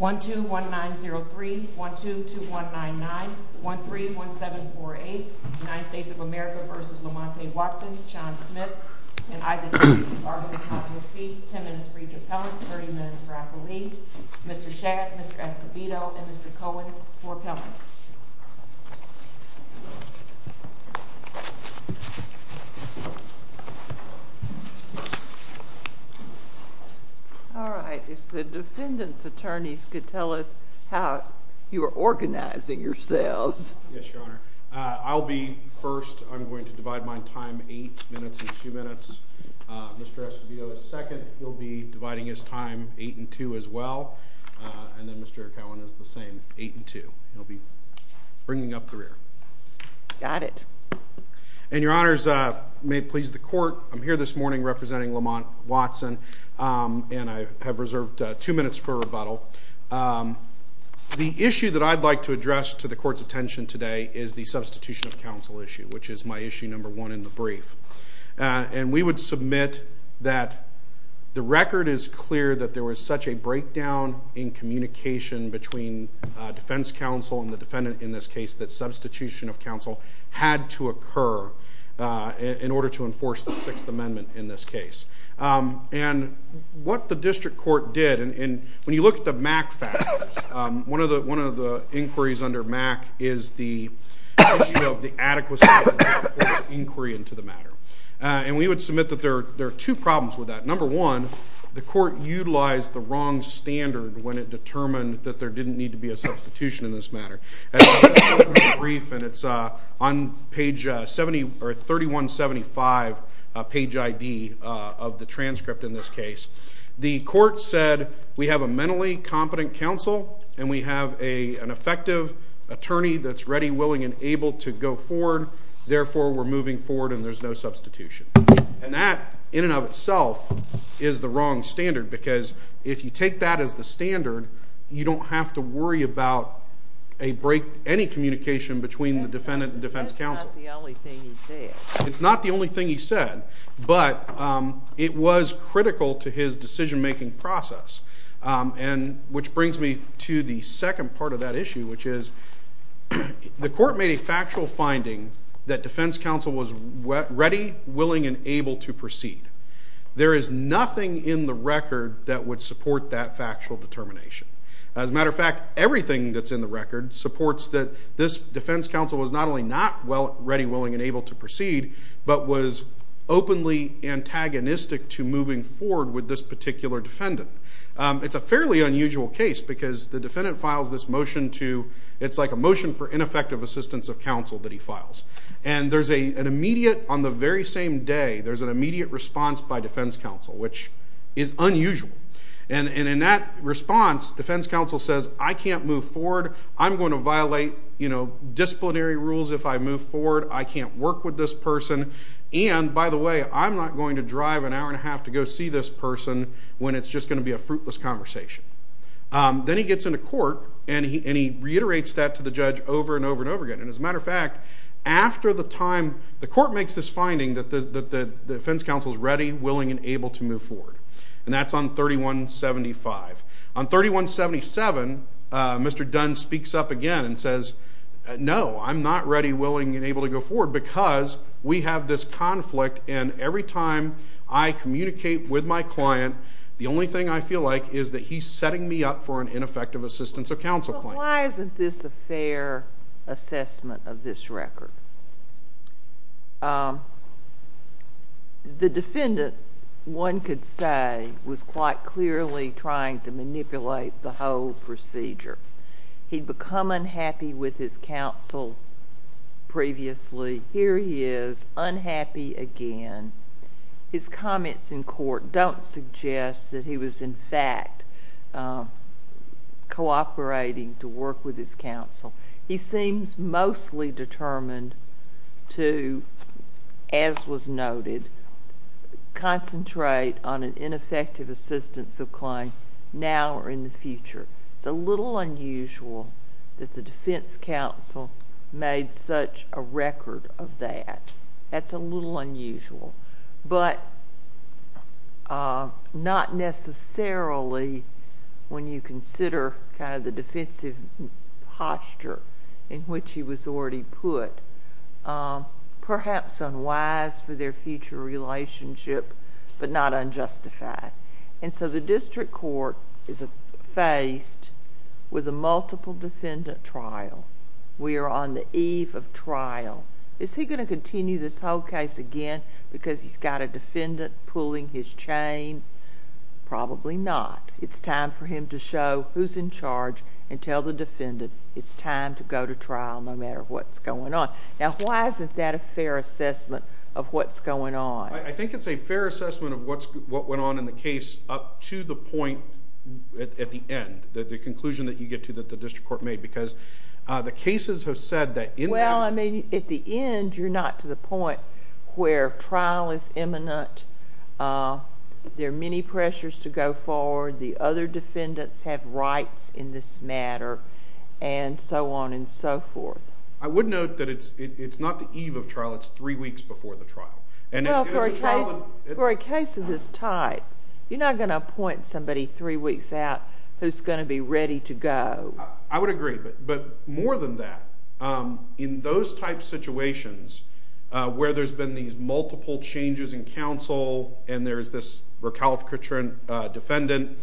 1-2-1-9-0-3, 1-2-2-1-9-9, 1-3-1-7-4-8, United States of America v. Lamont Watson, Sean Smith, and Isaac E. Arvin, if not to exceed 10 minutes for each appellant, 30 minutes for appellee. Mr. Shadd, Mr. Escobedo, and Mr. Cohen, four appellants. All right. If the defendant's attorneys could tell us how you are organizing yourselves. Yes, Your Honor. I'll be first. I'm going to divide my time 8 minutes and 2 minutes. Mr. Escobedo is second. He'll be dividing his time 8 and 2 as well. And then Mr. Cohen is the same, 8 and 2. He'll be bringing up the rear. Got it. And Your Honors, may it please the Court, I'm here this morning representing Lamont Watson, and I have reserved 2 minutes for rebuttal. The issue that I'd like to address to the Court's attention today is the substitution of counsel issue, which is my issue number one in the brief. And we would submit that the record is clear that there was such a breakdown in communication between defense counsel and the defendant in this case that substitution of counsel had to occur in order to enforce the Sixth Amendment in this case. And what the district court did, and when you look at the MAC factors, one of the inquiries under MAC is the issue of the adequacy of inquiry into the matter. And we would submit that there are two problems with that. Number one, the Court utilized the wrong standard when it determined that there didn't need to be a substitution in this matter. And it's on page 71 or 3175 page ID of the transcript in this case. The Court said, we have a mentally competent counsel and we have an effective attorney that's ready, willing, and able to go forward, therefore we're moving forward and there's no substitution. And that, in and of itself, is the wrong standard because if you take that as the standard, you don't have to worry about any communication between the defendant and defense counsel. That's not the only thing he said. It's not the only thing he said, but it was critical to his decision-making process, which brings me to the second part of that issue, which is the Court made a factual finding that defense counsel was ready, willing, and able to proceed. There is nothing in the record that would support that factual determination. As a matter of fact, everything that's in the record supports that this defense counsel was not only not ready, willing, and able to proceed, but was openly antagonistic to moving forward with this particular defendant. It's a fairly unusual case because the defendant files this motion to, it's like a motion for ineffective assistance of counsel that he files. And there's an immediate, on the very same day, there's an immediate response by defense counsel, which is unusual. And in that response, defense counsel says, I can't move forward. I'm going to violate disciplinary rules if I move forward. I can't work with this person. And, by the way, I'm not going to drive an hour and a half to go see this person when it's just going to be a fruitless conversation. Then he gets into court, and he reiterates that to the judge over and over and over again. And as a matter of fact, after the time, the Court makes this finding that the defense counsel is ready, willing, and able to move forward, and that's on 3175. On 3177, Mr. Dunn speaks up again and says, no, I'm not ready, willing, and able to go forward because we have this conflict, and every time I communicate with my client, the only thing I feel like is that he's setting me up for an ineffective assistance of counsel claim. Why isn't this a fair assessment of this record? The defendant, one could say, was quite clearly trying to manipulate the whole procedure. He'd become unhappy with his counsel previously. Here he is, unhappy again. His comments in court don't suggest that he was, in fact, cooperating to work with his counsel. He seems mostly determined to, as was noted, concentrate on an ineffective assistance of claim now or in the future. It's a little unusual that the defense counsel made such a record of that. That's a little unusual. But not necessarily when you consider kind of the defensive posture in which he was already put, perhaps unwise for their future relationship, but not unjustified. And so the district court is faced with a multiple defendant trial. Is he going to continue this whole case again because he's got a defendant pulling his chain? Probably not. It's time for him to show who's in charge and tell the defendant it's time to go to trial no matter what's going on. Now, why isn't that a fair assessment of what's going on? I think it's a fair assessment of what went on in the case up to the point at the end, the conclusion that you get to that the district court made, because the cases have said that in them... Well, I mean, at the end, you're not to the point where trial is imminent, there are many pressures to go forward, the other defendants have rights in this matter, and so on and so forth. I would note that it's not the eve of trial. It's three weeks before the trial. Well, for a case of this type, you're not going to appoint somebody three weeks out who's going to be ready to go. I would agree, but more than that, in those type situations where there's been these multiple changes in counsel, and there's this recalcitrant defendant,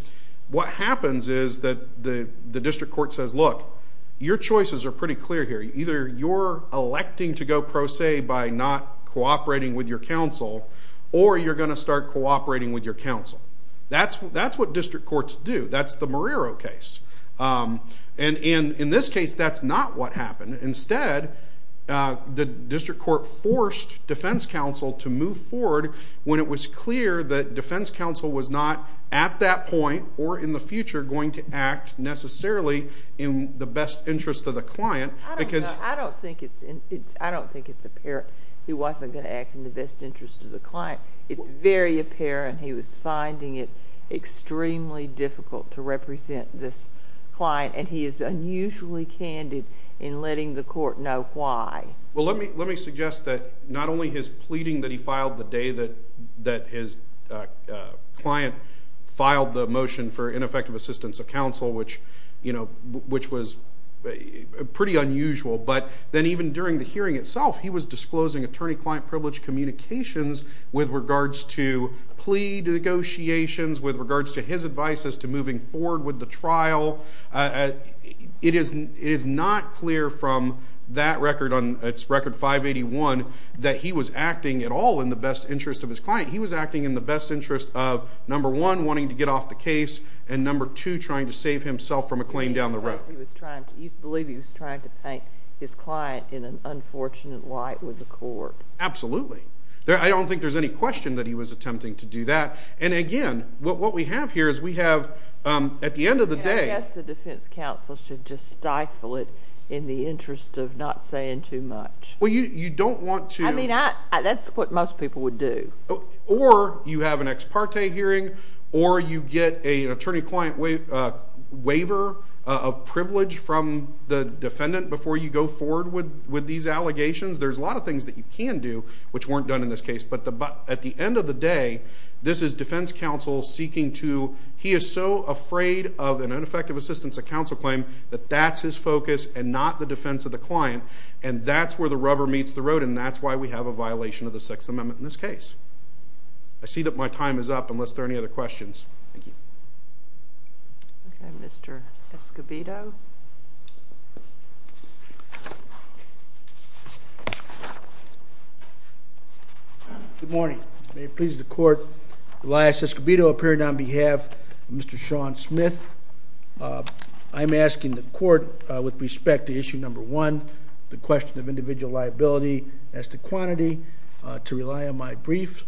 what happens is that the district court says, look, your choices are pretty clear here. Either you're electing to go pro se by not cooperating with your counsel, or you're going to start cooperating with your counsel. That's what district courts do. That's the Marrero case. In this case, that's not what happened. Instead, the district court forced defense counsel to move forward when it was clear that defense counsel was not, at that point or in the future, going to act necessarily in the best interest of the client, because... I don't think it's apparent he wasn't going to act in the best interest of the client. It's very apparent he was finding it extremely difficult to represent this client, and he is unusually candid in letting the court know why. Well, let me suggest that not only his pleading that he filed the day that his client filed the motion for ineffective assistance of counsel, which was pretty unusual, but then even during the hearing itself, he was disclosing attorney-client privilege communications with regards to plea negotiations, with regards to his advice as to moving forward with the trial. It is not clear from that record on Record 581 that he was acting at all in the best interest of his client. He was acting in the best interest of, number one, wanting to get off the case, and number two, trying to save himself from a claim down the road. You believe he was trying to paint his client in an unfortunate light with the court. Absolutely. I don't think there's any question that he was attempting to do that. And again, what we have here is we have, at the end of the day... I guess the defense counsel should just stifle it in the interest of not saying too much. Well, you don't want to... I mean, that's what most people would do. Or you have an ex parte hearing, or you get an attorney-client waiver of privilege from the defendant before you go forward with these allegations. There's a lot of things that you can do, which weren't done in this case. But at the end of the day, this is defense counsel seeking to... He is so afraid of an ineffective assistance at counsel claim that that's his focus and not the defense of the client, and that's where the rubber meets the road, and that's why we have a violation of the Sixth Amendment in this case. I see that my time is up, unless there are any other questions. Thank you. Okay, Mr. Escobedo. Good morning. May it please the Court, Elias Escobedo appearing on behalf of Mr. Sean Smith. I'm asking the Court, with respect to Issue No. 1, the question of individual liability as to quantity, to rely on my brief.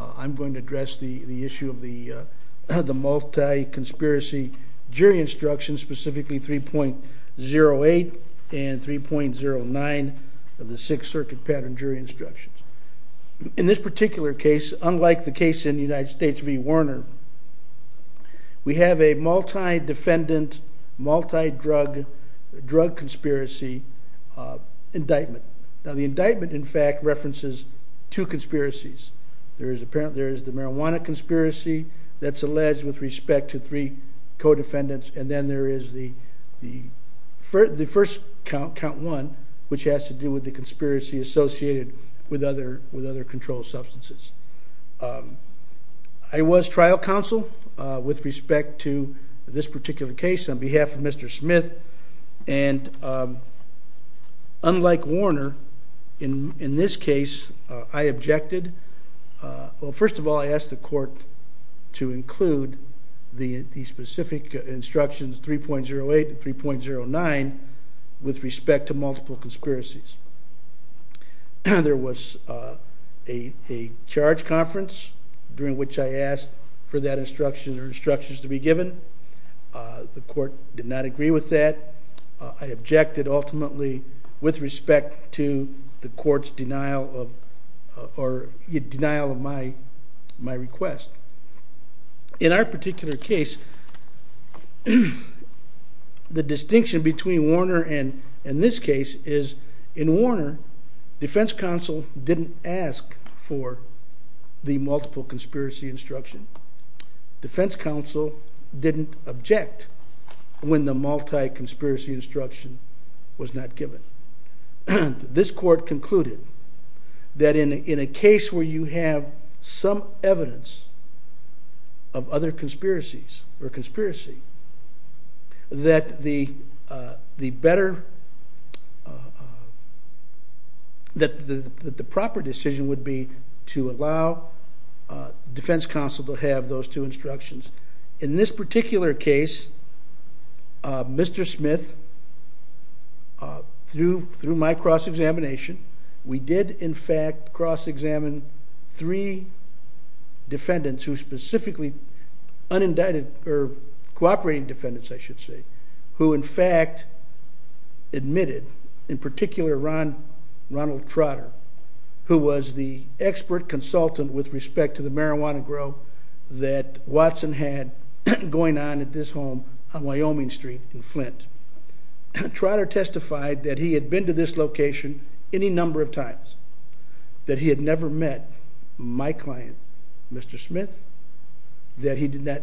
I'm going to address the issue of the multi-conspiracy jury instructions, specifically 3.08 and 3.09 of the Sixth Circuit pattern jury instructions. In this particular case, unlike the case in United States v. Warner, we have a multi-defendant, multi-drug conspiracy indictment. Now, the indictment, in fact, references two conspiracies. There is the marijuana conspiracy that's alleged with respect to three co-defendants, and then there is the first count, count one, which has to do with the conspiracy associated with other controlled substances. I was trial counsel with respect to this particular case on behalf of Mr. Smith, and unlike Warner, in this case, I objected. Well, first of all, I asked the Court to include the specific instructions 3.08 and 3.09 with respect to multiple conspiracies. There was a charge conference during which I asked for that instruction or instructions to be given. The Court did not agree with that. I objected ultimately with respect to the Court's denial of my request. In our particular case, the distinction between Warner and this case is in Warner, defense counsel didn't ask for the multiple conspiracy instruction. Defense counsel didn't object when the multi-conspiracy instruction was not given. This Court concluded that in a case where you have some evidence of other conspiracies or conspiracy, that the proper decision would be to allow defense counsel to have those two instructions. In this particular case, Mr. Smith, through my cross-examination, we did, in fact, cross-examine three defendants who specifically unindicted, or cooperating defendants, I should say, who, in fact, admitted, in particular, Ronald Trotter, who was the expert consultant with respect to the marijuana grow that Watson had going on at this home on Wyoming Street in Flint. Trotter testified that he had been to this location any number of times, that he had never met my client, Mr. Smith, that he did not,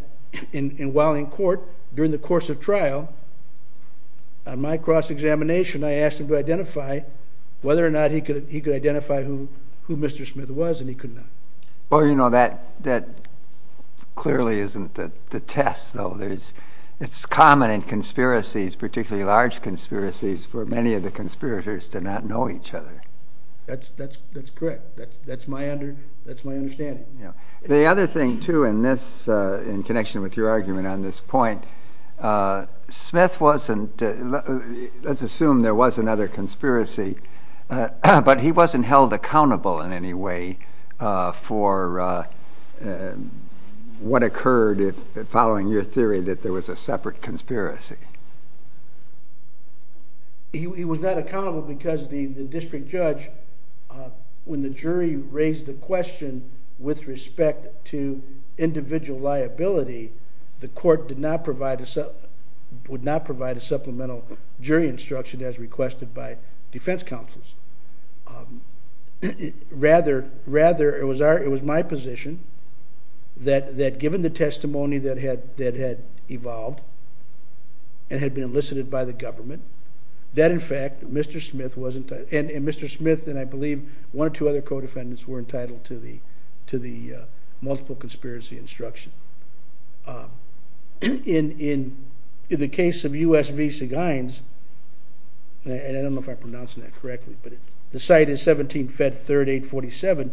and while in court, during the course of trial, on my cross-examination, I asked him to identify whether or not he could identify who Mr. Smith was, and he could not. That clearly isn't the test, though. It's common in conspiracies, particularly large conspiracies, for many of the conspirators to not know each other. That's correct. That's my understanding. The other thing, too, in connection with your argument on this point, Smith wasn't, let's assume there was another conspiracy, but he wasn't held accountable in any way for what occurred following your theory that there was a separate conspiracy. He was not accountable because the district judge, when the jury raised the question with respect to individual liability, the court would not provide a supplemental jury instruction as requested by defense counsels. Rather, it was my position that given the testimony that had evolved and had been elicited by the government, that, in fact, Mr. Smith wasn't, and Mr. Smith and, I believe, one or two other co-defendants were entitled to the multiple conspiracy instruction. In the case of U.S. v. Seguin's, and I don't know if I'm pronouncing that correctly, but the site is 17-Fed-3-8-47,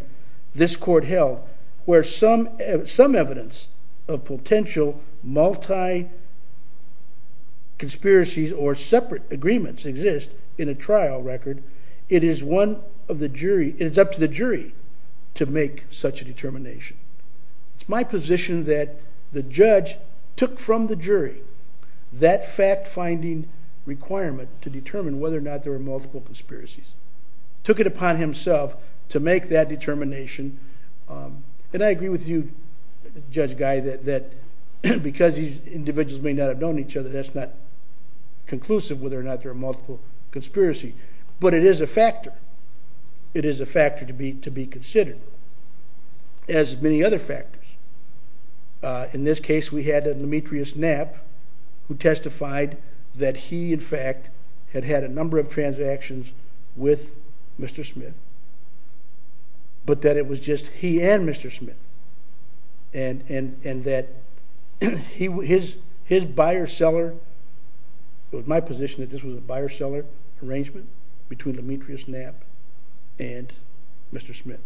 this court held where some evidence of potential multi-conspiracies or separate agreements exist in a trial record, it's my position that the judge took from the jury that fact-finding requirement to determine whether or not there were multiple conspiracies, took it upon himself to make that determination, and I agree with you, Judge Guy, that because these individuals may not have known each other, that's not conclusive whether or not there are multiple conspiracies, but it is a factor. It is a factor to be considered. As many other factors. In this case, we had a Demetrius Knapp who testified that he, in fact, had had a number of transactions with Mr. Smith, but that it was just he and Mr. Smith, and that his buyer-seller, it was my position that this was a buyer-seller arrangement between Demetrius Knapp and Mr. Smith.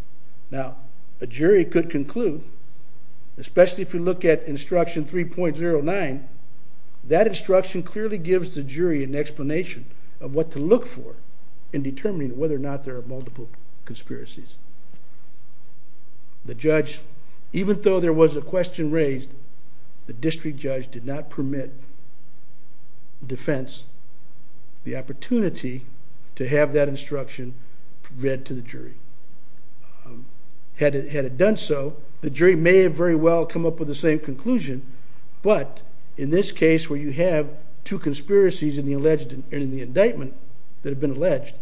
Now, a jury could conclude, especially if you look at Instruction 3.09, that instruction clearly gives the jury an explanation of what to look for in determining whether or not there are multiple conspiracies. The judge, even though there was a question raised, the district judge did not permit defense. The opportunity to have that instruction read to the jury. Had it done so, the jury may very well come up with the same conclusion, but in this case where you have two conspiracies in the indictment that have been alleged,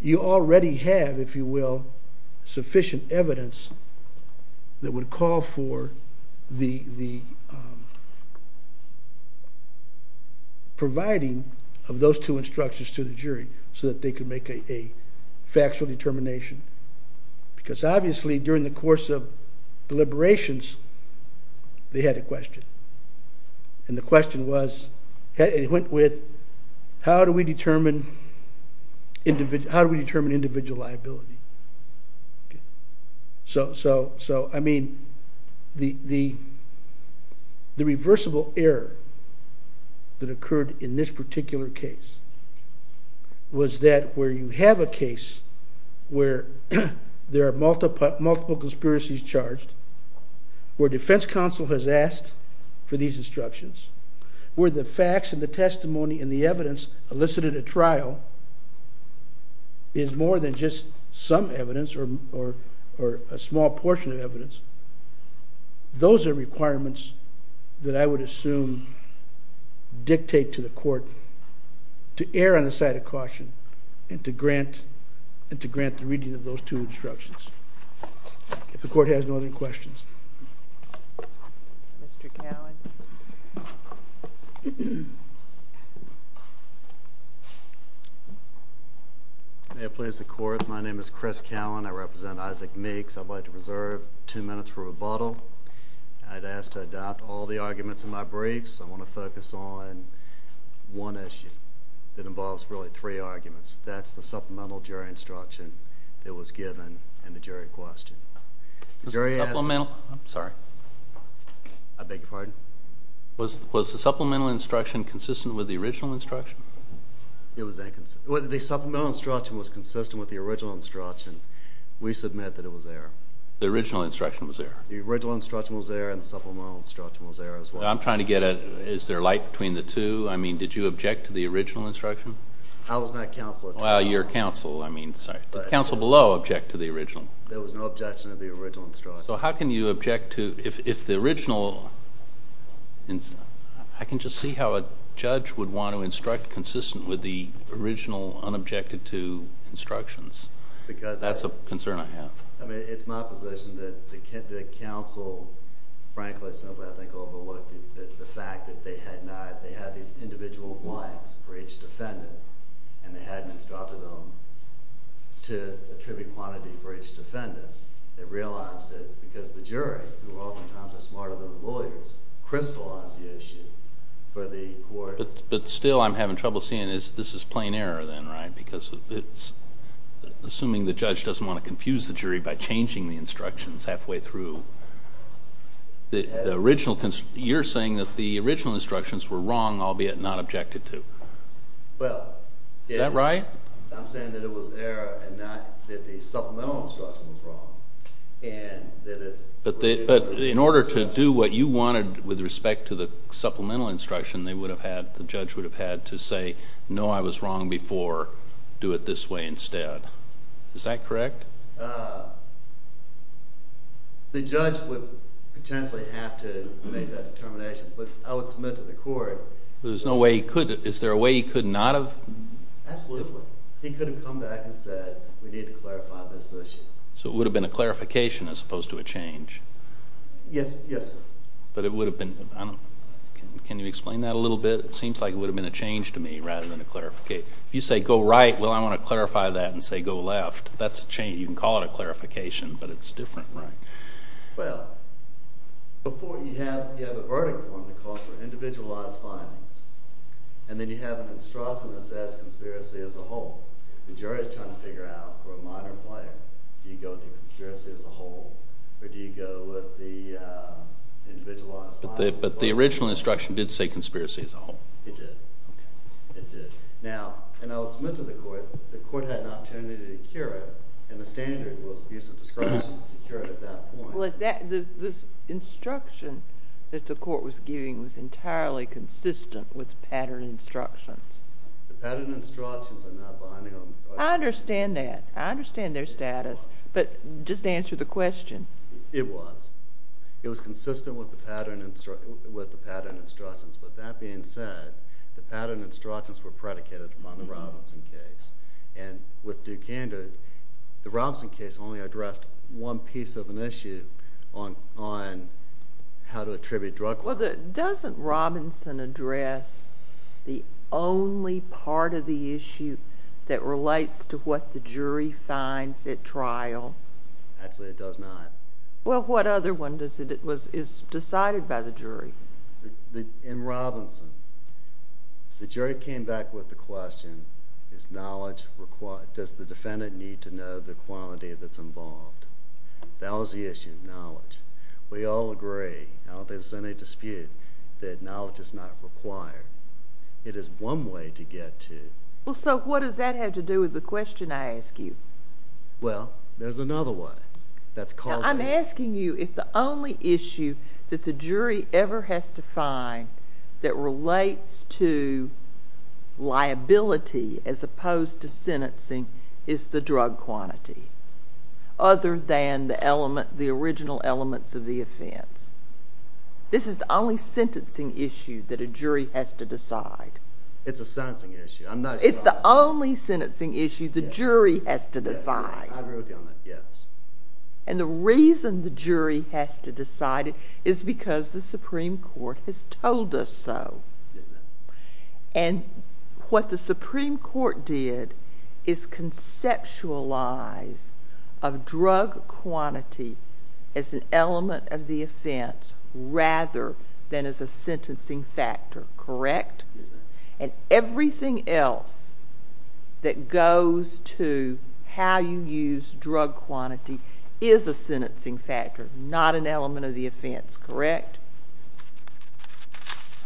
you already have, if you will, sufficient evidence that would call for the providing of those two instructions to the jury so that they could make a factual determination. Because obviously during the course of deliberations, they had a question. And the question was, it went with, how do we determine individual liability? So, I mean, the reversible error that occurred in this particular case was that where you have a case where there are multiple conspiracies charged, where defense counsel has asked for these instructions, where the facts and the testimony and the evidence elicited at trial is more than just some evidence or a small portion of evidence, those are requirements that I would assume dictate to the court to err on the side of caution and to grant the reading of those two instructions. If the court has no other questions. Mr. Cowan. May it please the court, my name is Chris Cowan. I represent Isaac Meeks. I'd like to reserve two minutes for rebuttal. I'd ask to adopt all the arguments in my briefs. I want to focus on one issue that involves really three arguments. That's the supplemental jury instruction that was given in the jury question. The jury asked... I'm sorry. I beg your pardon? Was the supplemental instruction consistent with the original instruction? The supplemental instruction was consistent with the original instruction. We submit that it was there. The original instruction was there. The original instruction was there and the supplemental instruction was there as well. I'm trying to get, is there a light between the two? I mean, did you object to the original instruction? I was not counsel at all. Well, you're counsel, I mean, sorry. Did counsel below object to the original? There was no objection to the original instruction. So how can you object to... If the original... I can just see how a judge would want to instruct consistent with the original, unobjected to instructions. Because... That's a concern I have. I mean, it's my position that the counsel frankly or simply I think overlooked the fact that they had not... They had these individual blanks for each defendant and they hadn't instructed them to attribute quantity for each defendant. They realized that because the jury, who oftentimes are smarter than the lawyers, crystallized the issue for the court... But still I'm having trouble seeing this is plain error then, right? Because it's... Assuming the judge doesn't want to confuse the jury by changing the instructions halfway through. The original... You're saying that the original instructions were wrong, albeit not objected to. Well... Is that right? I'm saying that it was error and not that the supplemental instruction was wrong. And that it's... But in order to do what you wanted with respect to the supplemental instruction, they would have had... The judge would have had to say, no, I was wrong before. Do it this way instead. Is that correct? The judge would potentially have to make that determination. But I would submit to the court... There's no way he could... Is there a way he could not have... Absolutely. He could have come back and said, we need to clarify this issue. So it would have been a clarification as opposed to a change? Yes, yes, sir. But it would have been... Can you explain that a little bit? It seems like it would have been a change to me rather than a clarification. If you say, go right, well, I want to clarify that and say go left, that's a change. You can call it a clarification, but it's different, right? Well... Before you have... You have a verdict form that calls for individualized findings. And then you have an instruction that says conspiracy as a whole. The jury's trying to figure out, for a minor player, do you go with the conspiracy as a whole or do you go with the individualized... But the original instruction did say conspiracy as a whole. It did. Okay. It did. Now, and I would submit to the court the court had an opportunity to cure it, and the standard was abuse of discretion to cure it at that point. This instruction that the court was giving was entirely consistent with the pattern instructions. The pattern instructions are not binding on... I understand that. I understand their status. But just answer the question. It was. It was consistent with the pattern instructions. But that being said, the pattern instructions were predicated on the Robinson case. And with Dukander, the Robinson case only addressed one piece of an issue on how to attribute drug... Well, doesn't Robinson address the only part of the issue that relates to what the jury finds at trial? Actually, it does not. Well, what other one is decided by the jury? In Robinson, the jury came back with the question, does the defendant need to know the quantity that's involved? That was the issue, knowledge. We all agree. I don't think there's any dispute that knowledge is not required. It is one way to get to... Well, so what does that have to do with the question I ask you? Well, there's another way. I'm asking you if the only issue that the jury ever has to find that relates to liability as opposed to sentencing is the drug quantity, other than the original elements of the offense. This is the only sentencing issue that a jury has to decide. It's a sentencing issue. I'm not sure... It's the only sentencing issue the jury has to decide. I agree with you on that, yes. And the reason the jury has to decide it is because the Supreme Court has told us so. Isn't it? And what the Supreme Court did is conceptualize of drug quantity as an element of the offense rather than as a sentencing factor, correct? Yes, ma'am. And everything else that goes to how you use drug quantity is a sentencing factor, not an element of the offense, correct?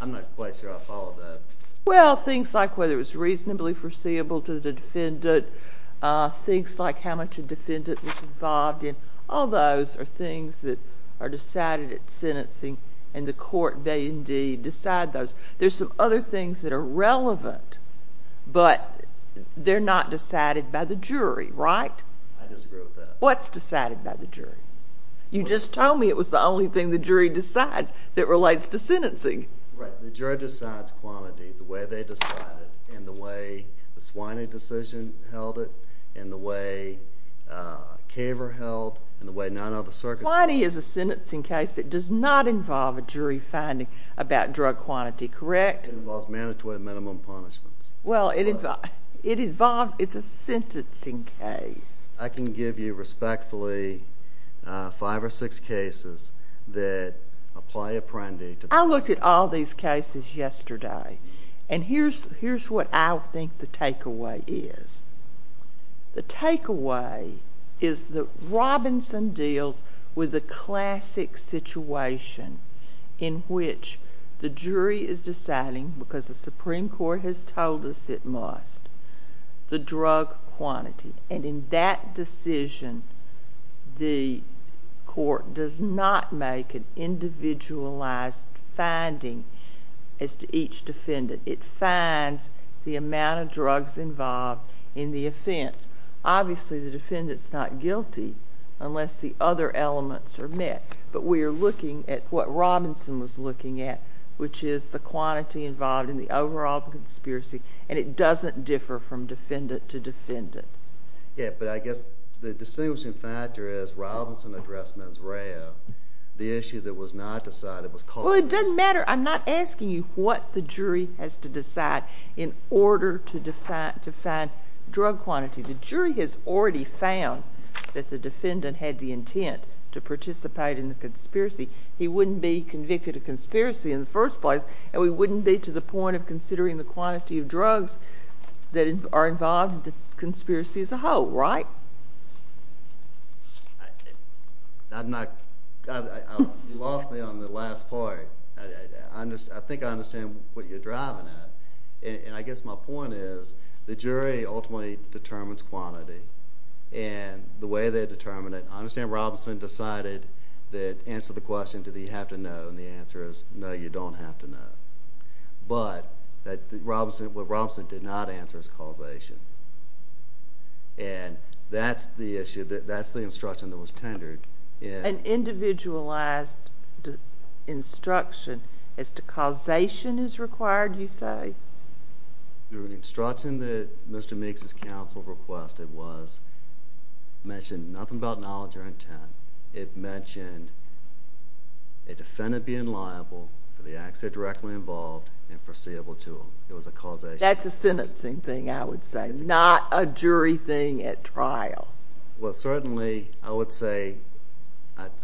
I'm not quite sure I followed that. Well, things like whether it was reasonably foreseeable to the defendant, things like how much a defendant was involved in, all those are things that are decided at sentencing, and the court may indeed decide those. There's some other things that are relevant, but they're not decided by the jury, right? I disagree with that. What's decided by the jury? You just told me it was the only thing the jury decides that relates to sentencing. Right, the jury decides quantity the way they decide it and the way the Swiney decision held it and the way Kaver held it and the way none of the circuits held it. Swiney is a sentencing case that does not involve a jury finding about drug quantity, correct? It involves mandatory minimum punishments. Well, it involves... It's a sentencing case. I can give you respectfully five or six cases that apply Apprendi to... I looked at all these cases yesterday, and here's what I think the takeaway is. The takeaway is that Robinson deals with the classic situation in which the jury is deciding, because the Supreme Court has told us it must, the drug quantity, and in that decision, the court does not make an individualized finding as to each defendant. It finds the amount of drugs involved in the offense. Obviously, the defendant's not guilty unless the other elements are met, but we are looking at what Robinson was looking at, which is the quantity involved in the overall conspiracy, and it doesn't differ from defendant to defendant. Yeah, but I guess the distinguishing factor is Robinson addressed Monsreau. The issue that was not decided was called... Well, it doesn't matter. I'm not asking you what the jury has to decide in order to find drug quantity. The jury has already found that the defendant had the intent to participate in the conspiracy. He wouldn't be convicted of conspiracy in the first place, and we wouldn't be to the point of considering the quantity of drugs that are involved in the conspiracy as a whole, right? I'm not... You lost me on the last part. I think I understand what you're driving at, and I guess my point is the jury ultimately determines quantity, and the way they determine it, I understand Robinson decided to answer the question, do you have to know, and the answer is no, you don't have to know, but what Robinson did not answer is causation, and that's the instruction that was tendered. An individualized instruction as to causation is required, you say? The instruction that Mr. Meeks' counsel requested was mentioned nothing about knowledge or intent. It mentioned a defendant being liable for the acts he directly involved and foreseeable to him. It was a causation. That's a sentencing thing, I would say, not a jury thing at trial. Well, certainly, I would say,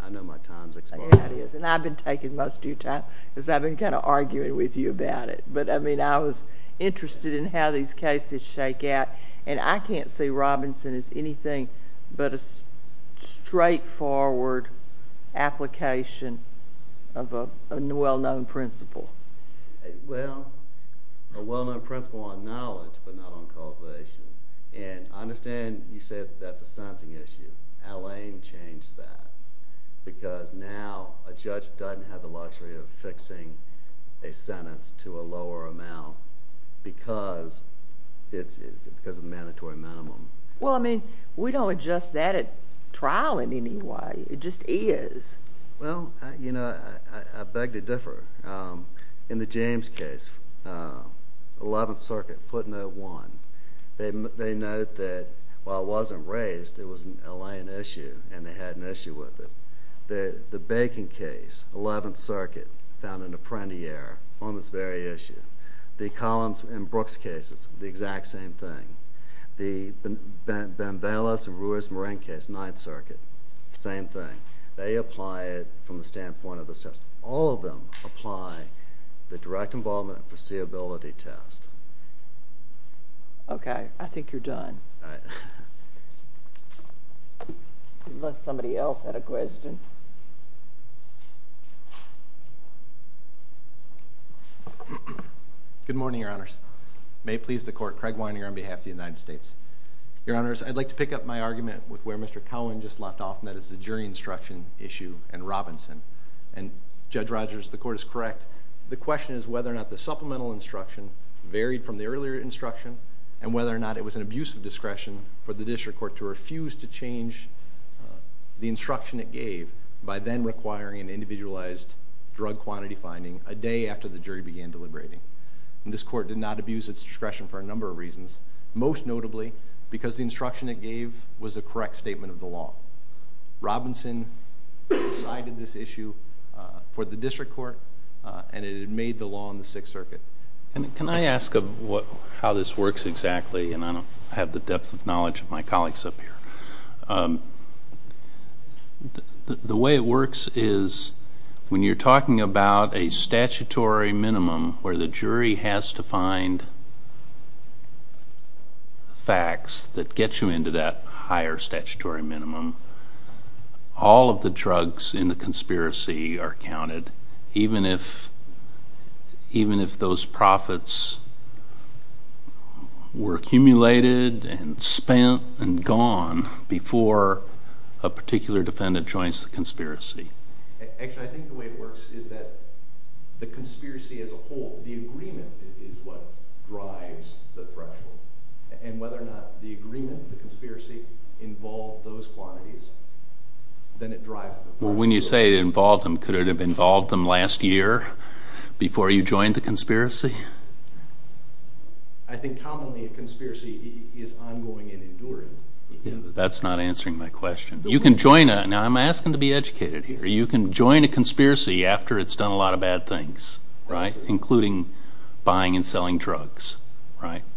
I know my time's expired. It is, and I've been taking most of your time because I've been kind of arguing with you about it, but I was interested in how these cases shake out, and I can't see Robinson as anything but a straightforward application of a well-known principle. Well, a well-known principle on knowledge, but not on causation, and I understand you said that's a sentencing issue. Al Ain changed that because now a judge doesn't have the luxury of fixing a sentence to a lower amount because of the mandatory minimum. Well, I mean, we don't adjust that at trial in any way. It just is. Well, you know, I beg to differ. In the James case, 11th Circuit, footnote 1, they note that while it wasn't raised, it was an Al Ain issue, and they had an issue with it. The Bacon case, 11th Circuit, found an apprentiere on this very issue. The Collins and Brooks cases, the exact same thing. The Banvales-Ruiz-Morenquez, 9th Circuit, same thing. They apply it from the standpoint of this test. All of them apply the direct involvement foreseeability test. Okay. I think you're done. Unless somebody else had a question. Good morning, Your Honors. May it please the Court, Craig Weininger on behalf of the United States. Your Honors, I'd like to pick up my argument with where Mr. Cowan just left off, and that is the jury instruction issue and Robinson. And Judge Rogers, the Court is correct. The question is whether or not the supplemental instruction varied from the earlier instruction, and whether or not it was an abuse of discretion for the district court to refuse to change the instruction it gave by then requiring an individualized drug quantity finding a day after the jury began deliberating. And this Court did not abuse its discretion for a number of reasons, most notably because the instruction it gave was a correct statement of the law. Robinson decided this issue for the district court, and it had made the law in the 6th Circuit. Can I ask how this works exactly? And I don't have the depth of knowledge of my colleagues up here. The way it works is when you're talking about a statutory minimum where the jury has to find facts that get you into that higher statutory minimum, all of the drugs in the conspiracy are counted, even if those profits were accumulated and spent and gone Actually, I think the way it works is that the conspiracy as a whole, the agreement is what drives the threshold. And whether or not the agreement, the conspiracy, involved those quantities, then it drives the threshold. Well, when you say it involved them, could it have involved them last year before you joined the conspiracy? I think commonly a conspiracy is ongoing and enduring. That's not answering my question. Now, I'm asking to be educated here. You can join a conspiracy after it's done a lot of bad things, including buying and selling drugs.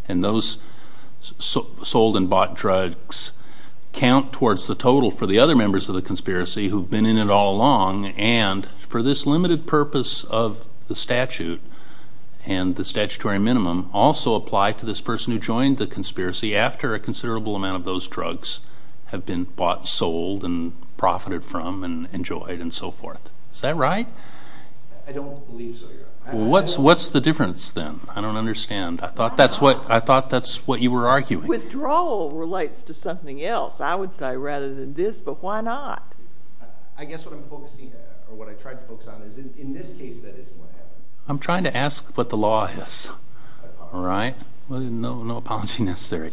And those sold and bought drugs count towards the total for the other members of the conspiracy who have been in it all along, and for this limited purpose of the statute and the statutory minimum, also apply to this person who joined the conspiracy after a considerable amount of those drugs have been bought, sold, and profited from and enjoyed and so forth. Is that right? I don't believe so, Your Honor. Well, what's the difference then? I don't understand. I thought that's what you were arguing. Withdrawal relates to something else, I would say, rather than this, but why not? I guess what I'm focusing on, or what I tried to focus on, is in this case that isn't what happened. I'm trying to ask what the law is. I apologize. All right. No apology necessary.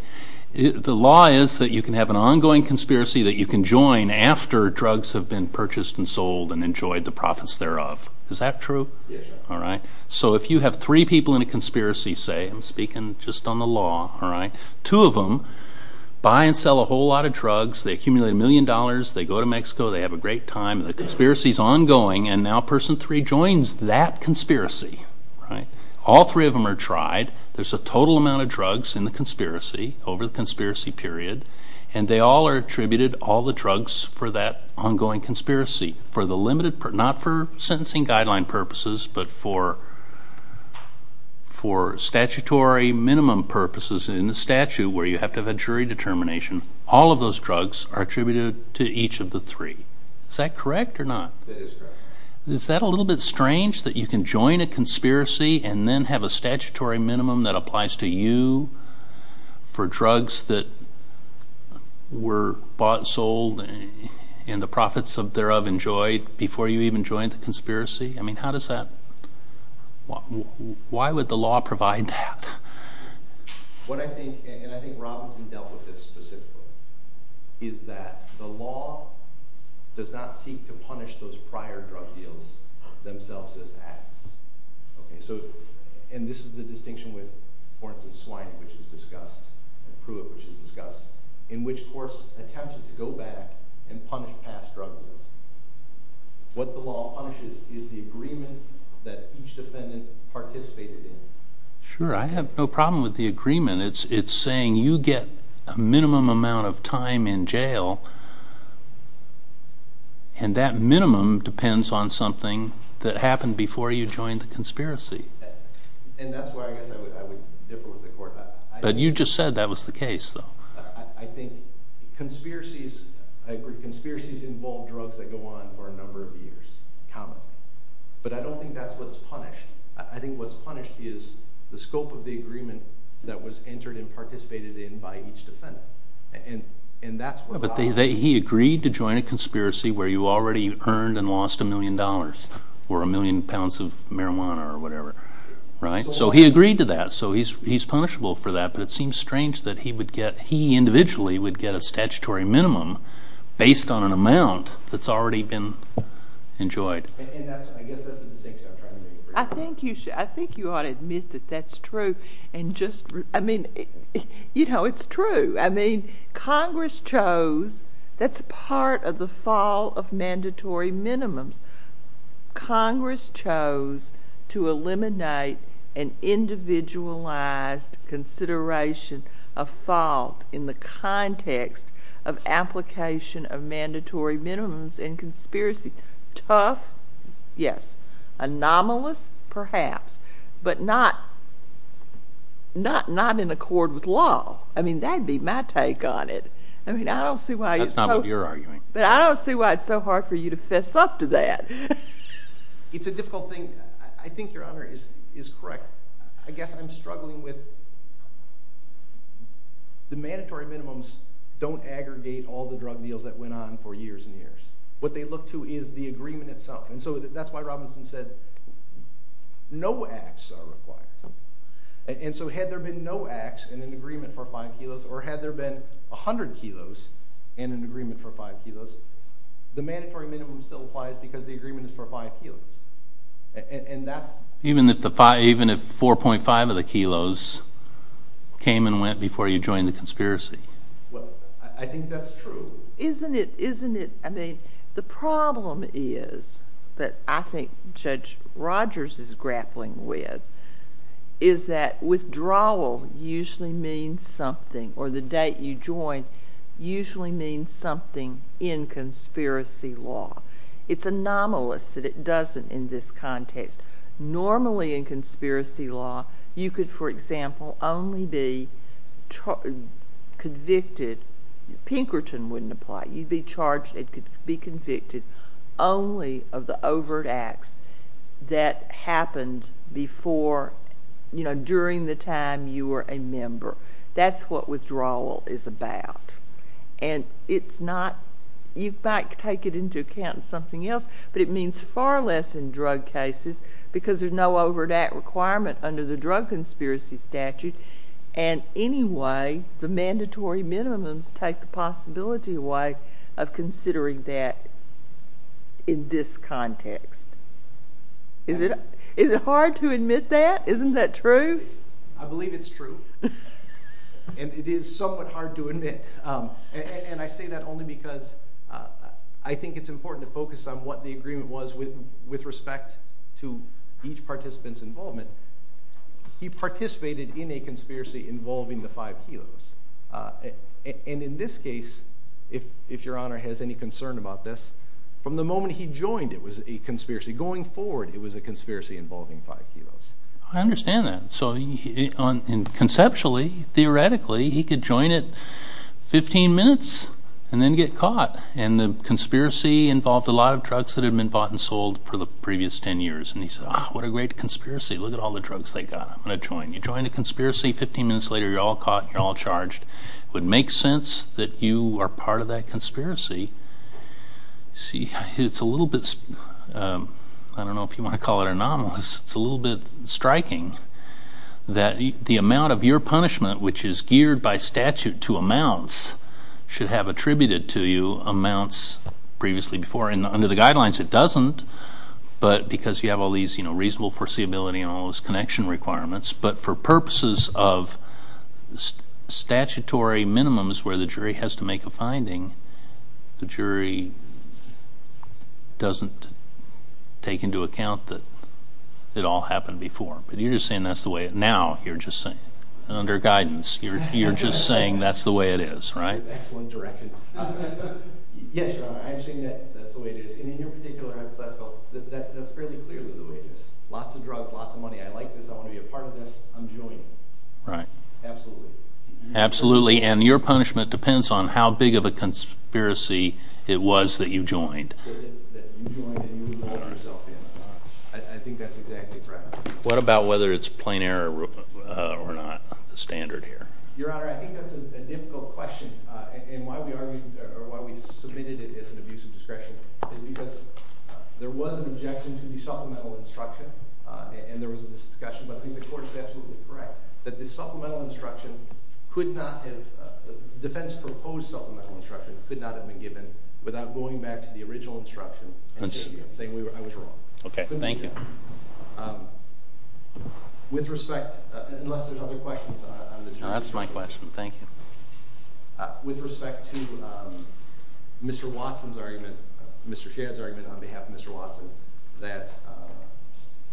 The law is that you can have an ongoing conspiracy that you can join after drugs have been purchased and sold and enjoyed the profits thereof. Is that true? Yes, Your Honor. All right. So if you have three people in a conspiracy, say, I'm speaking just on the law, two of them buy and sell a whole lot of drugs. They accumulate a million dollars. They go to Mexico. They have a great time. The conspiracy is ongoing, and now Person 3 joins that conspiracy. All three of them are tried. There's a total amount of drugs in the conspiracy over the conspiracy period, and they all are attributed all the drugs for that ongoing conspiracy, not for sentencing guideline purposes, but for statutory minimum purposes in the statute where you have to have a jury determination. All of those drugs are attributed to each of the three. Is that correct or not? That is correct. Is that a little bit strange that you can join a conspiracy and then have a statutory minimum that applies to you for drugs that were bought, sold, and the profits thereof enjoyed before you even joined the conspiracy? I mean, how does that? Why would the law provide that? What I think, and I think Robinson dealt with this specifically, is that the law does not seek to punish those prior drug deals themselves as acts. And this is the distinction with, for instance, Swiney, which is discussed, and Pruitt, which is discussed, in which courts attempted to go back and punish past drug deals. What the law punishes is the agreement that each defendant participated in. Sure, I have no problem with the agreement. It's saying you get a minimum amount of time in jail, and that minimum depends on something that happened before you joined the conspiracy. And that's why I guess I would differ with the court. But you just said that was the case, though. I think conspiracies involve drugs that go on for a number of years. But I don't think that's what's punished. I think what's punished is the scope of the agreement that was entered and participated in by each defendant. But he agreed to join a conspiracy where you already earned and lost a million dollars or a million pounds of marijuana or whatever. So he agreed to that, so he's punishable for that. But it seems strange that he individually would get a statutory minimum based on an amount that's already been enjoyed. And I guess that's the distinction I'm trying to make. I think you ought to admit that that's true. And just—I mean, you know, it's true. I mean, Congress chose—that's part of the fall of mandatory minimums. Congress chose to eliminate an individualized consideration of fault in the context of application of mandatory minimums in conspiracy. Tough, yes. Anomalous, perhaps. But not in accord with law. I mean, that'd be my take on it. I mean, I don't see why you— That's not what you're arguing. But I don't see why it's so hard for you to fess up to that. It's a difficult thing. I think Your Honor is correct. I guess I'm struggling with the mandatory minimums don't aggregate all the drug deals that went on for years and years. What they look to is the agreement itself. And so that's why Robinson said no acts are required. And so had there been no acts in an agreement for 5 kilos, or had there been 100 kilos in an agreement for 5 kilos, the mandatory minimum still applies because the agreement is for 5 kilos. And that's— Even if 4.5 of the kilos came and went before you joined the conspiracy? Well, I think that's true. Isn't it—I mean, the problem is that I think Judge Rogers is grappling with is that withdrawal usually means something, or the date you join usually means something in conspiracy law. It's anomalous that it doesn't in this context. Normally in conspiracy law, you could, for example, only be convicted— it doesn't apply. You'd be charged and be convicted only of the overt acts that happened before, during the time you were a member. That's what withdrawal is about. And it's not—you might take it into account in something else, but it means far less in drug cases because there's no overt act requirement under the drug conspiracy statute. And anyway, the mandatory minimums take the possibility away of considering that in this context. Is it hard to admit that? Isn't that true? I believe it's true. And it is somewhat hard to admit. And I say that only because I think it's important to focus on what the agreement was with respect to each participant's involvement. He participated in a conspiracy involving the 5 kilos. And in this case, if Your Honor has any concern about this, from the moment he joined it was a conspiracy. Going forward, it was a conspiracy involving 5 kilos. I understand that. So conceptually, theoretically, he could join it 15 minutes and then get caught. And the conspiracy involved a lot of drugs that had been bought and sold for the previous 10 years. And he said, ah, what a great conspiracy. Look at all the drugs they got. I'm going to join. You join a conspiracy, 15 minutes later you're all caught, you're all charged. It would make sense that you are part of that conspiracy. It's a little bit, I don't know if you want to call it anomalous, it's a little bit striking that the amount of your punishment, which is geared by statute to amounts, should have attributed to you amounts previously before. And under the guidelines it doesn't, but because you have all these reasonable foreseeability and all those connection requirements. But for purposes of statutory minimums where the jury has to make a finding, the jury doesn't take into account that it all happened before. But you're just saying that's the way it now. You're just saying, under guidance, you're just saying that's the way it is, right? Excellent direction. Yes, Your Honor, I'm saying that's the way it is. And in your particular hypothetical, that's fairly clearly the way it is. Lots of drugs, lots of money, I like this, I want to be a part of this, I'm joining. Right. Absolutely. Absolutely. And your punishment depends on how big of a conspiracy it was that you joined. That you joined and you involved yourself in. I think that's exactly correct. What about whether it's plain error or not, the standard here? Your Honor, I think that's a difficult question. And why we argued or why we submitted it as an abuse of discretion is because there was an objection to the supplemental instruction, and there was a discussion, but I think the Court is absolutely correct that the supplemental instruction could not have, defense-proposed supplemental instruction could not have been given without going back to the original instruction and saying I was wrong. Okay, thank you. With respect, unless there's other questions on the jury. No, that's my question. Thank you. With respect to Mr. Watson's argument, Mr. Shadd's argument on behalf of Mr. Watson that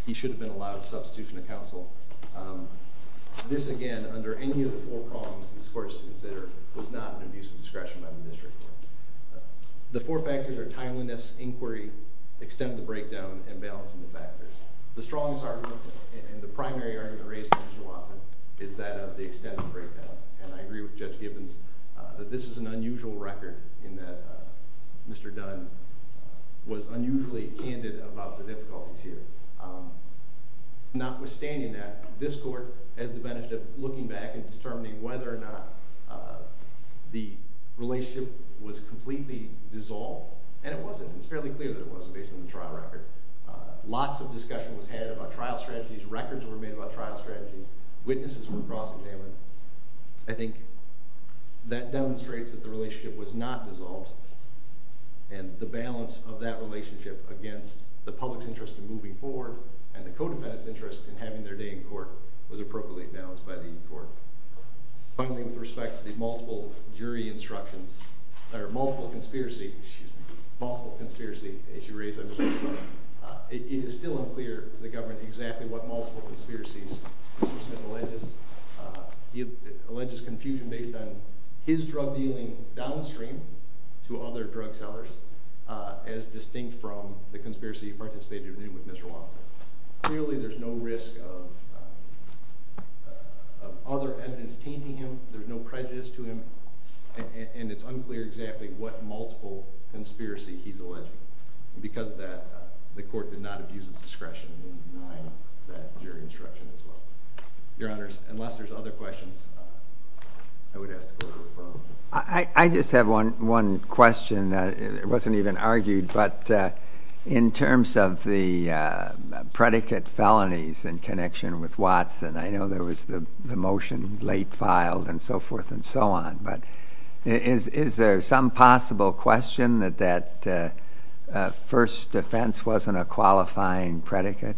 he should have been allowed substitution of counsel, this, again, under any of the four prongs in this Court to consider was not an abuse of discretion by the district court. The four factors are timeliness, inquiry, extent of the breakdown, and balance in the factors. The strongest argument and the primary argument raised by Mr. Watson is that of the extent of the breakdown, and I agree with Judge Gibbons that this is an unusual record in that Mr. Dunn was unusually candid about the difficulties here. Notwithstanding that, this Court has the advantage of looking back and determining whether or not the relationship was completely dissolved, and it wasn't. It's fairly clear that it wasn't based on the trial record. Lots of discussion was had about trial strategies. Records were made about trial strategies. Witnesses were cross-examined. I think that demonstrates that the relationship was not dissolved, and the balance of that relationship against the public's interest in moving forward and the co-defendants' interest in having their day in court was appropriately balanced by the Court. Finally, with respect to the multiple jury instructions, or multiple conspiracy, excuse me, multiple conspiracy issue raised by Mr. Shadd, it is still unclear to the government exactly what multiple conspiracies Mr. Smith alleges. He alleges confusion based on his drug dealing downstream to other drug sellers as distinct from the conspiracy he participated in with Mr. Watson. Clearly there's no risk of other evidence tainting him. There's no prejudice to him, and it's unclear exactly what multiple conspiracy he's alleging. Because of that, the Court did not abuse its discretion in denying that jury instruction as well. Your Honors, unless there's other questions, I would ask the Court to refer them. I just have one question. It wasn't even argued, but in terms of the predicate felonies in connection with Watson, I know there was the motion late filed and so forth and so on, but is there some possible question that that first offense wasn't a qualifying predicate?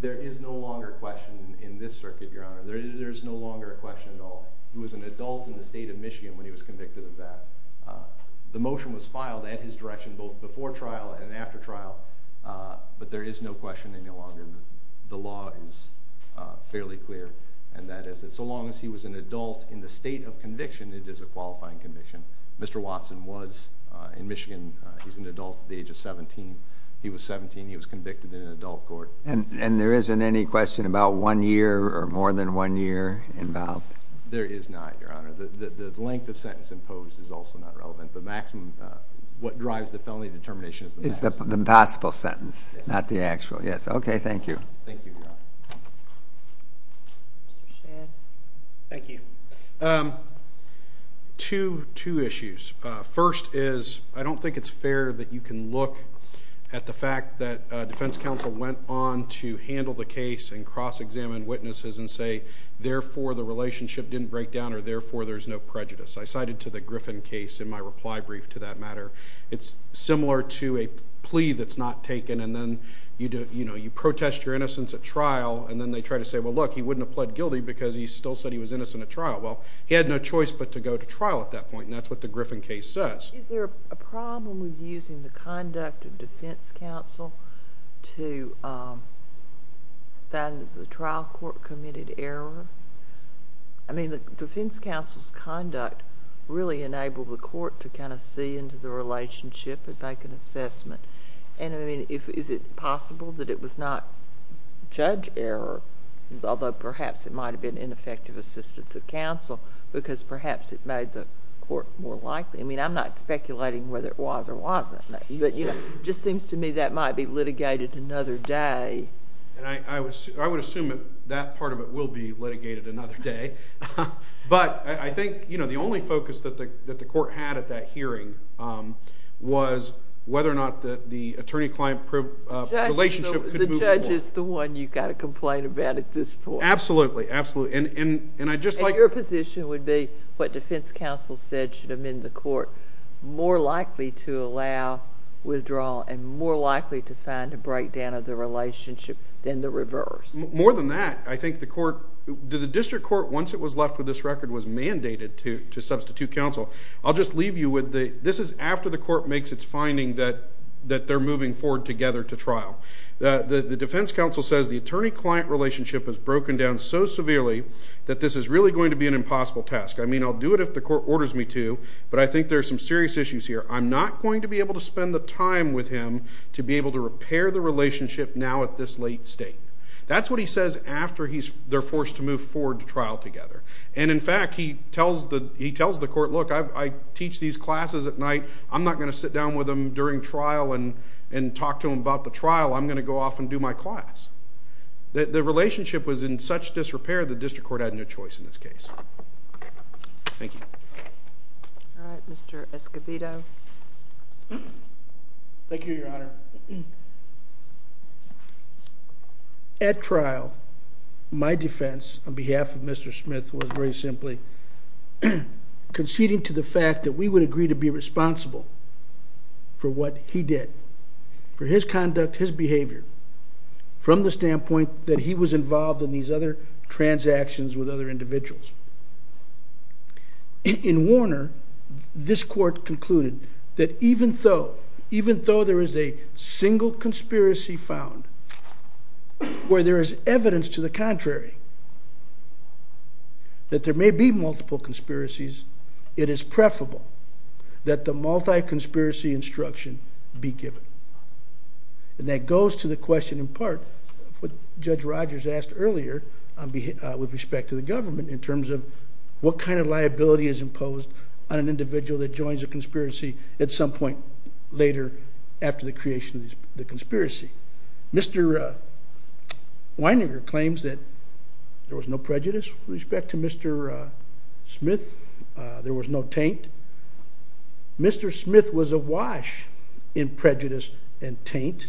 There is no longer a question in this circuit, Your Honor. There is no longer a question at all. He was an adult in the state of Michigan when he was convicted of that. The motion was filed at his direction both before trial and after trial, but there is no question any longer. The law is fairly clear, and that is that so long as he was an adult in the state of conviction, it is a qualifying conviction. Mr. Watson was in Michigan. He's an adult at the age of 17. He was 17. He was convicted in an adult court. And there isn't any question about one year or more than one year involved? There is not, Your Honor. The length of sentence imposed is also not relevant. What drives the felony determination is the maximum. It's the possible sentence, not the actual. Yes. Okay, thank you. Thank you, Your Honor. Mr. Shan. Thank you. Two issues. First is I don't think it's fair that you can look at the fact that defense counsel went on to handle the case and cross-examine witnesses and say, therefore, the relationship didn't break down or therefore there's no prejudice. I cited to the Griffin case in my reply brief to that matter. It's similar to a plea that's not taken, and then you protest your innocence at trial, and then they try to say, well, look, he wouldn't have pled guilty because he still said he was innocent at trial. Well, he had no choice but to go to trial at that point, and that's what the Griffin case says. Is there a problem with using the conduct of defense counsel to find that the trial court committed error? I mean, the defense counsel's conduct really enabled the court to kind of see into the relationship and make an assessment. And, I mean, is it possible that it was not judge error, although perhaps it might have been ineffective assistance of counsel, because perhaps it made the court more likely? I mean, I'm not speculating whether it was or wasn't, but, you know, it just seems to me that might be litigated another day. I would assume that part of it will be litigated another day, but I think, you know, the only focus that the court had at that hearing was whether or not the attorney-client relationship could move forward. The judge is the one you've got to complain about at this point. Absolutely, absolutely, and I just like... And your position would be what defense counsel said should have been the court more likely to allow withdrawal and more likely to find a breakdown of the relationship than the reverse. More than that, I think the court... The district court, once it was left with this record, was mandated to substitute counsel. I'll just leave you with the... This is after the court makes its finding that they're moving forward together to trial. The defense counsel says the attorney-client relationship has broken down so severely that this is really going to be an impossible task. I mean, I'll do it if the court orders me to, but I think there are some serious issues here. I'm not going to be able to spend the time with him to be able to repair the relationship now at this late state. That's what he says after they're forced to move forward to trial together. And, in fact, he tells the court, look, I teach these classes at night. I'm not going to sit down with him during trial and talk to him about the trial. I'm going to go off and do my class. The relationship was in such disrepair, the district court had no choice in this case. Thank you. All right, Mr. Escobedo. Thank you, Your Honor. At trial, my defense on behalf of Mr. Smith was very simply conceding to the fact that we would agree to be responsible for what he did, for his conduct, his behavior, from the standpoint that he was involved in these other transactions with other individuals. In Warner, this court concluded that even though there is a single conspiracy found where there is evidence to the contrary that there may be multiple conspiracies, it is preferable that the multi-conspiracy instruction be given. And that goes to the question, in part, of what Judge Rogers asked earlier with respect to the government in terms of what kind of liability is imposed on an individual that joins a conspiracy at some point later after the creation of the conspiracy. Mr. Weininger claims that there was no prejudice with respect to Mr. Smith. There was no taint. Mr. Smith was awash in prejudice and taint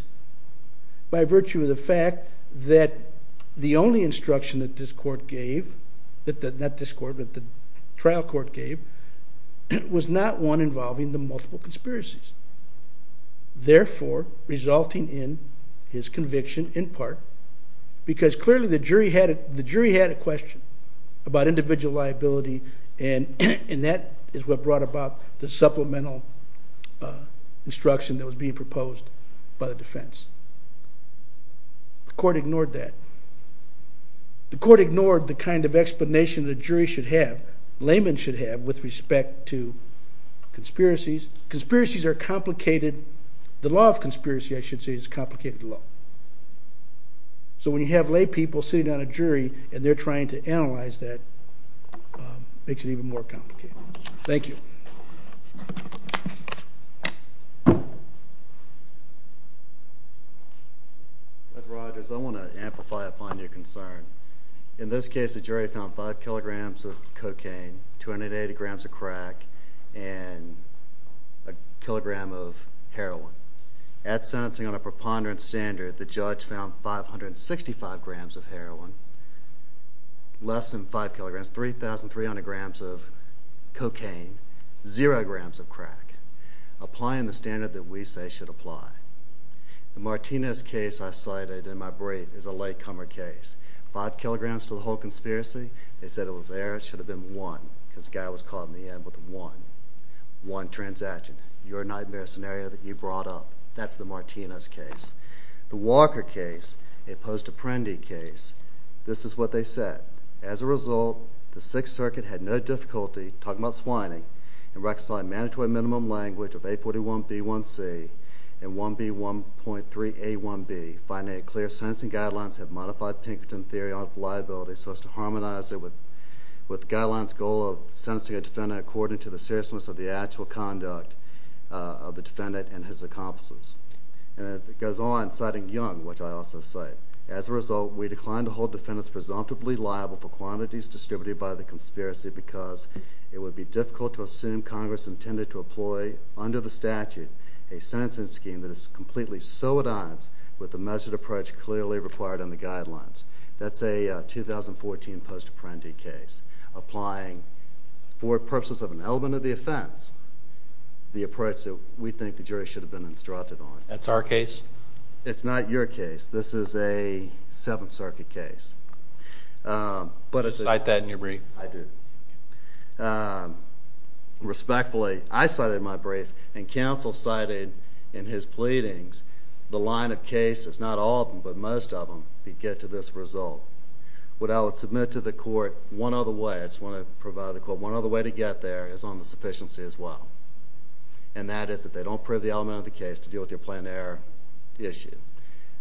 by virtue of the fact that the only instruction that this trial court gave was not one involving the multiple conspiracies. Therefore, resulting in his conviction, in part, because clearly the jury had a question about individual liability and that is what brought about the supplemental instruction that was being proposed by the defense. The court ignored that. The court ignored the kind of explanation the jury should have, layman should have, with respect to conspiracies. Conspiracies are complicated. The law of conspiracy, I should say, is a complicated law. So when you have laypeople sitting on a jury and they're trying to analyze that, it makes it even more complicated. Thank you. Judge Rogers, I want to amplify upon your concern. In this case, the jury found 5 kilograms of cocaine, 280 grams of crack, and a kilogram of heroin. At sentencing on a preponderance standard, the judge found 565 grams of heroin, less than 5 kilograms, 3,300 grams of cocaine, 0 grams of crack, applying the standard that we say should apply. The Martinez case I cited in my brief is a latecomer case. Five kilograms to the whole conspiracy? They said it was there. It should have been one because the guy was caught in the end with one. One transaction. You're a nightmare scenario that you brought up. That's the Martinez case. The Walker case, a post-apprendi case, this is what they said. As a result, the Sixth Circuit had no difficulty talking about swining and recognized mandatory minimum language of A41B1C and 1B1.3A1B, finding that clear sentencing guidelines had modified Pinkerton theory of liability so as to harmonize it with guidelines' goal of sentencing a defendant according to the seriousness of the actual conduct of the defendant and his accomplices. It goes on, citing Young, which I also cite, as a result, we declined to hold defendants presumptively liable for quantities distributed by the conspiracy because it would be difficult to assume Congress intended to employ, under the statute, a sentencing scheme that is completely so at odds with the measured approach clearly required in the guidelines. That's a 2014 post-apprendi case applying, for purposes of an element of the offense, the approach that we think the jury should have been instructed on. That's our case? It's not your case. This is a Seventh Circuit case. Did you cite that in your brief? I did. Respectfully, I cited it in my brief and counsel cited in his pleadings the line of cases, not all of them but most of them, that get to this result. What I would submit to the court one other way, I just want to provide the court one other way to get there, is on the sufficiency as well. And that is that they don't prove the element of the case to deal with your planned error issue.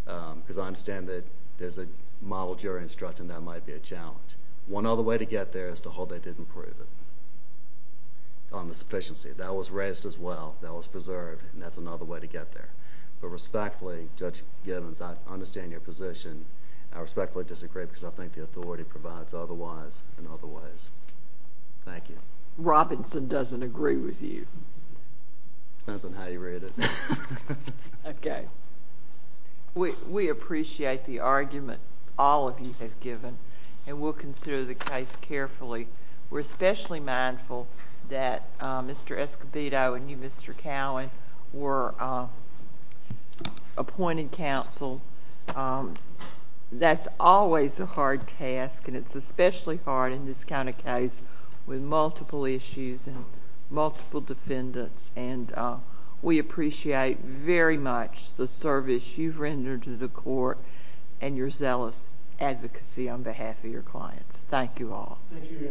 Because I understand that there's a model jury instruction that might be a challenge. One other way to get there is to hold they didn't prove it, on the sufficiency. That was raised as well. That was preserved. And that's another way to get there. Respectfully, Judge Gibbons, I understand your position. I respectfully disagree because I think the authority provides otherwise in other ways. Thank you. Robinson doesn't agree with you. Depends on how you read it. Okay. We appreciate the argument all of you have given, and we'll consider the case carefully. We're especially mindful that Mr. Escobedo and you, Mr. Cowan, were appointed counsel. That's always a hard task, and it's especially hard in this kind of case with multiple issues and multiple defendants. We appreciate very much the service you've rendered to the court and your zealous advocacy on behalf of your clients. Thank you all. Thank you, Your Honor.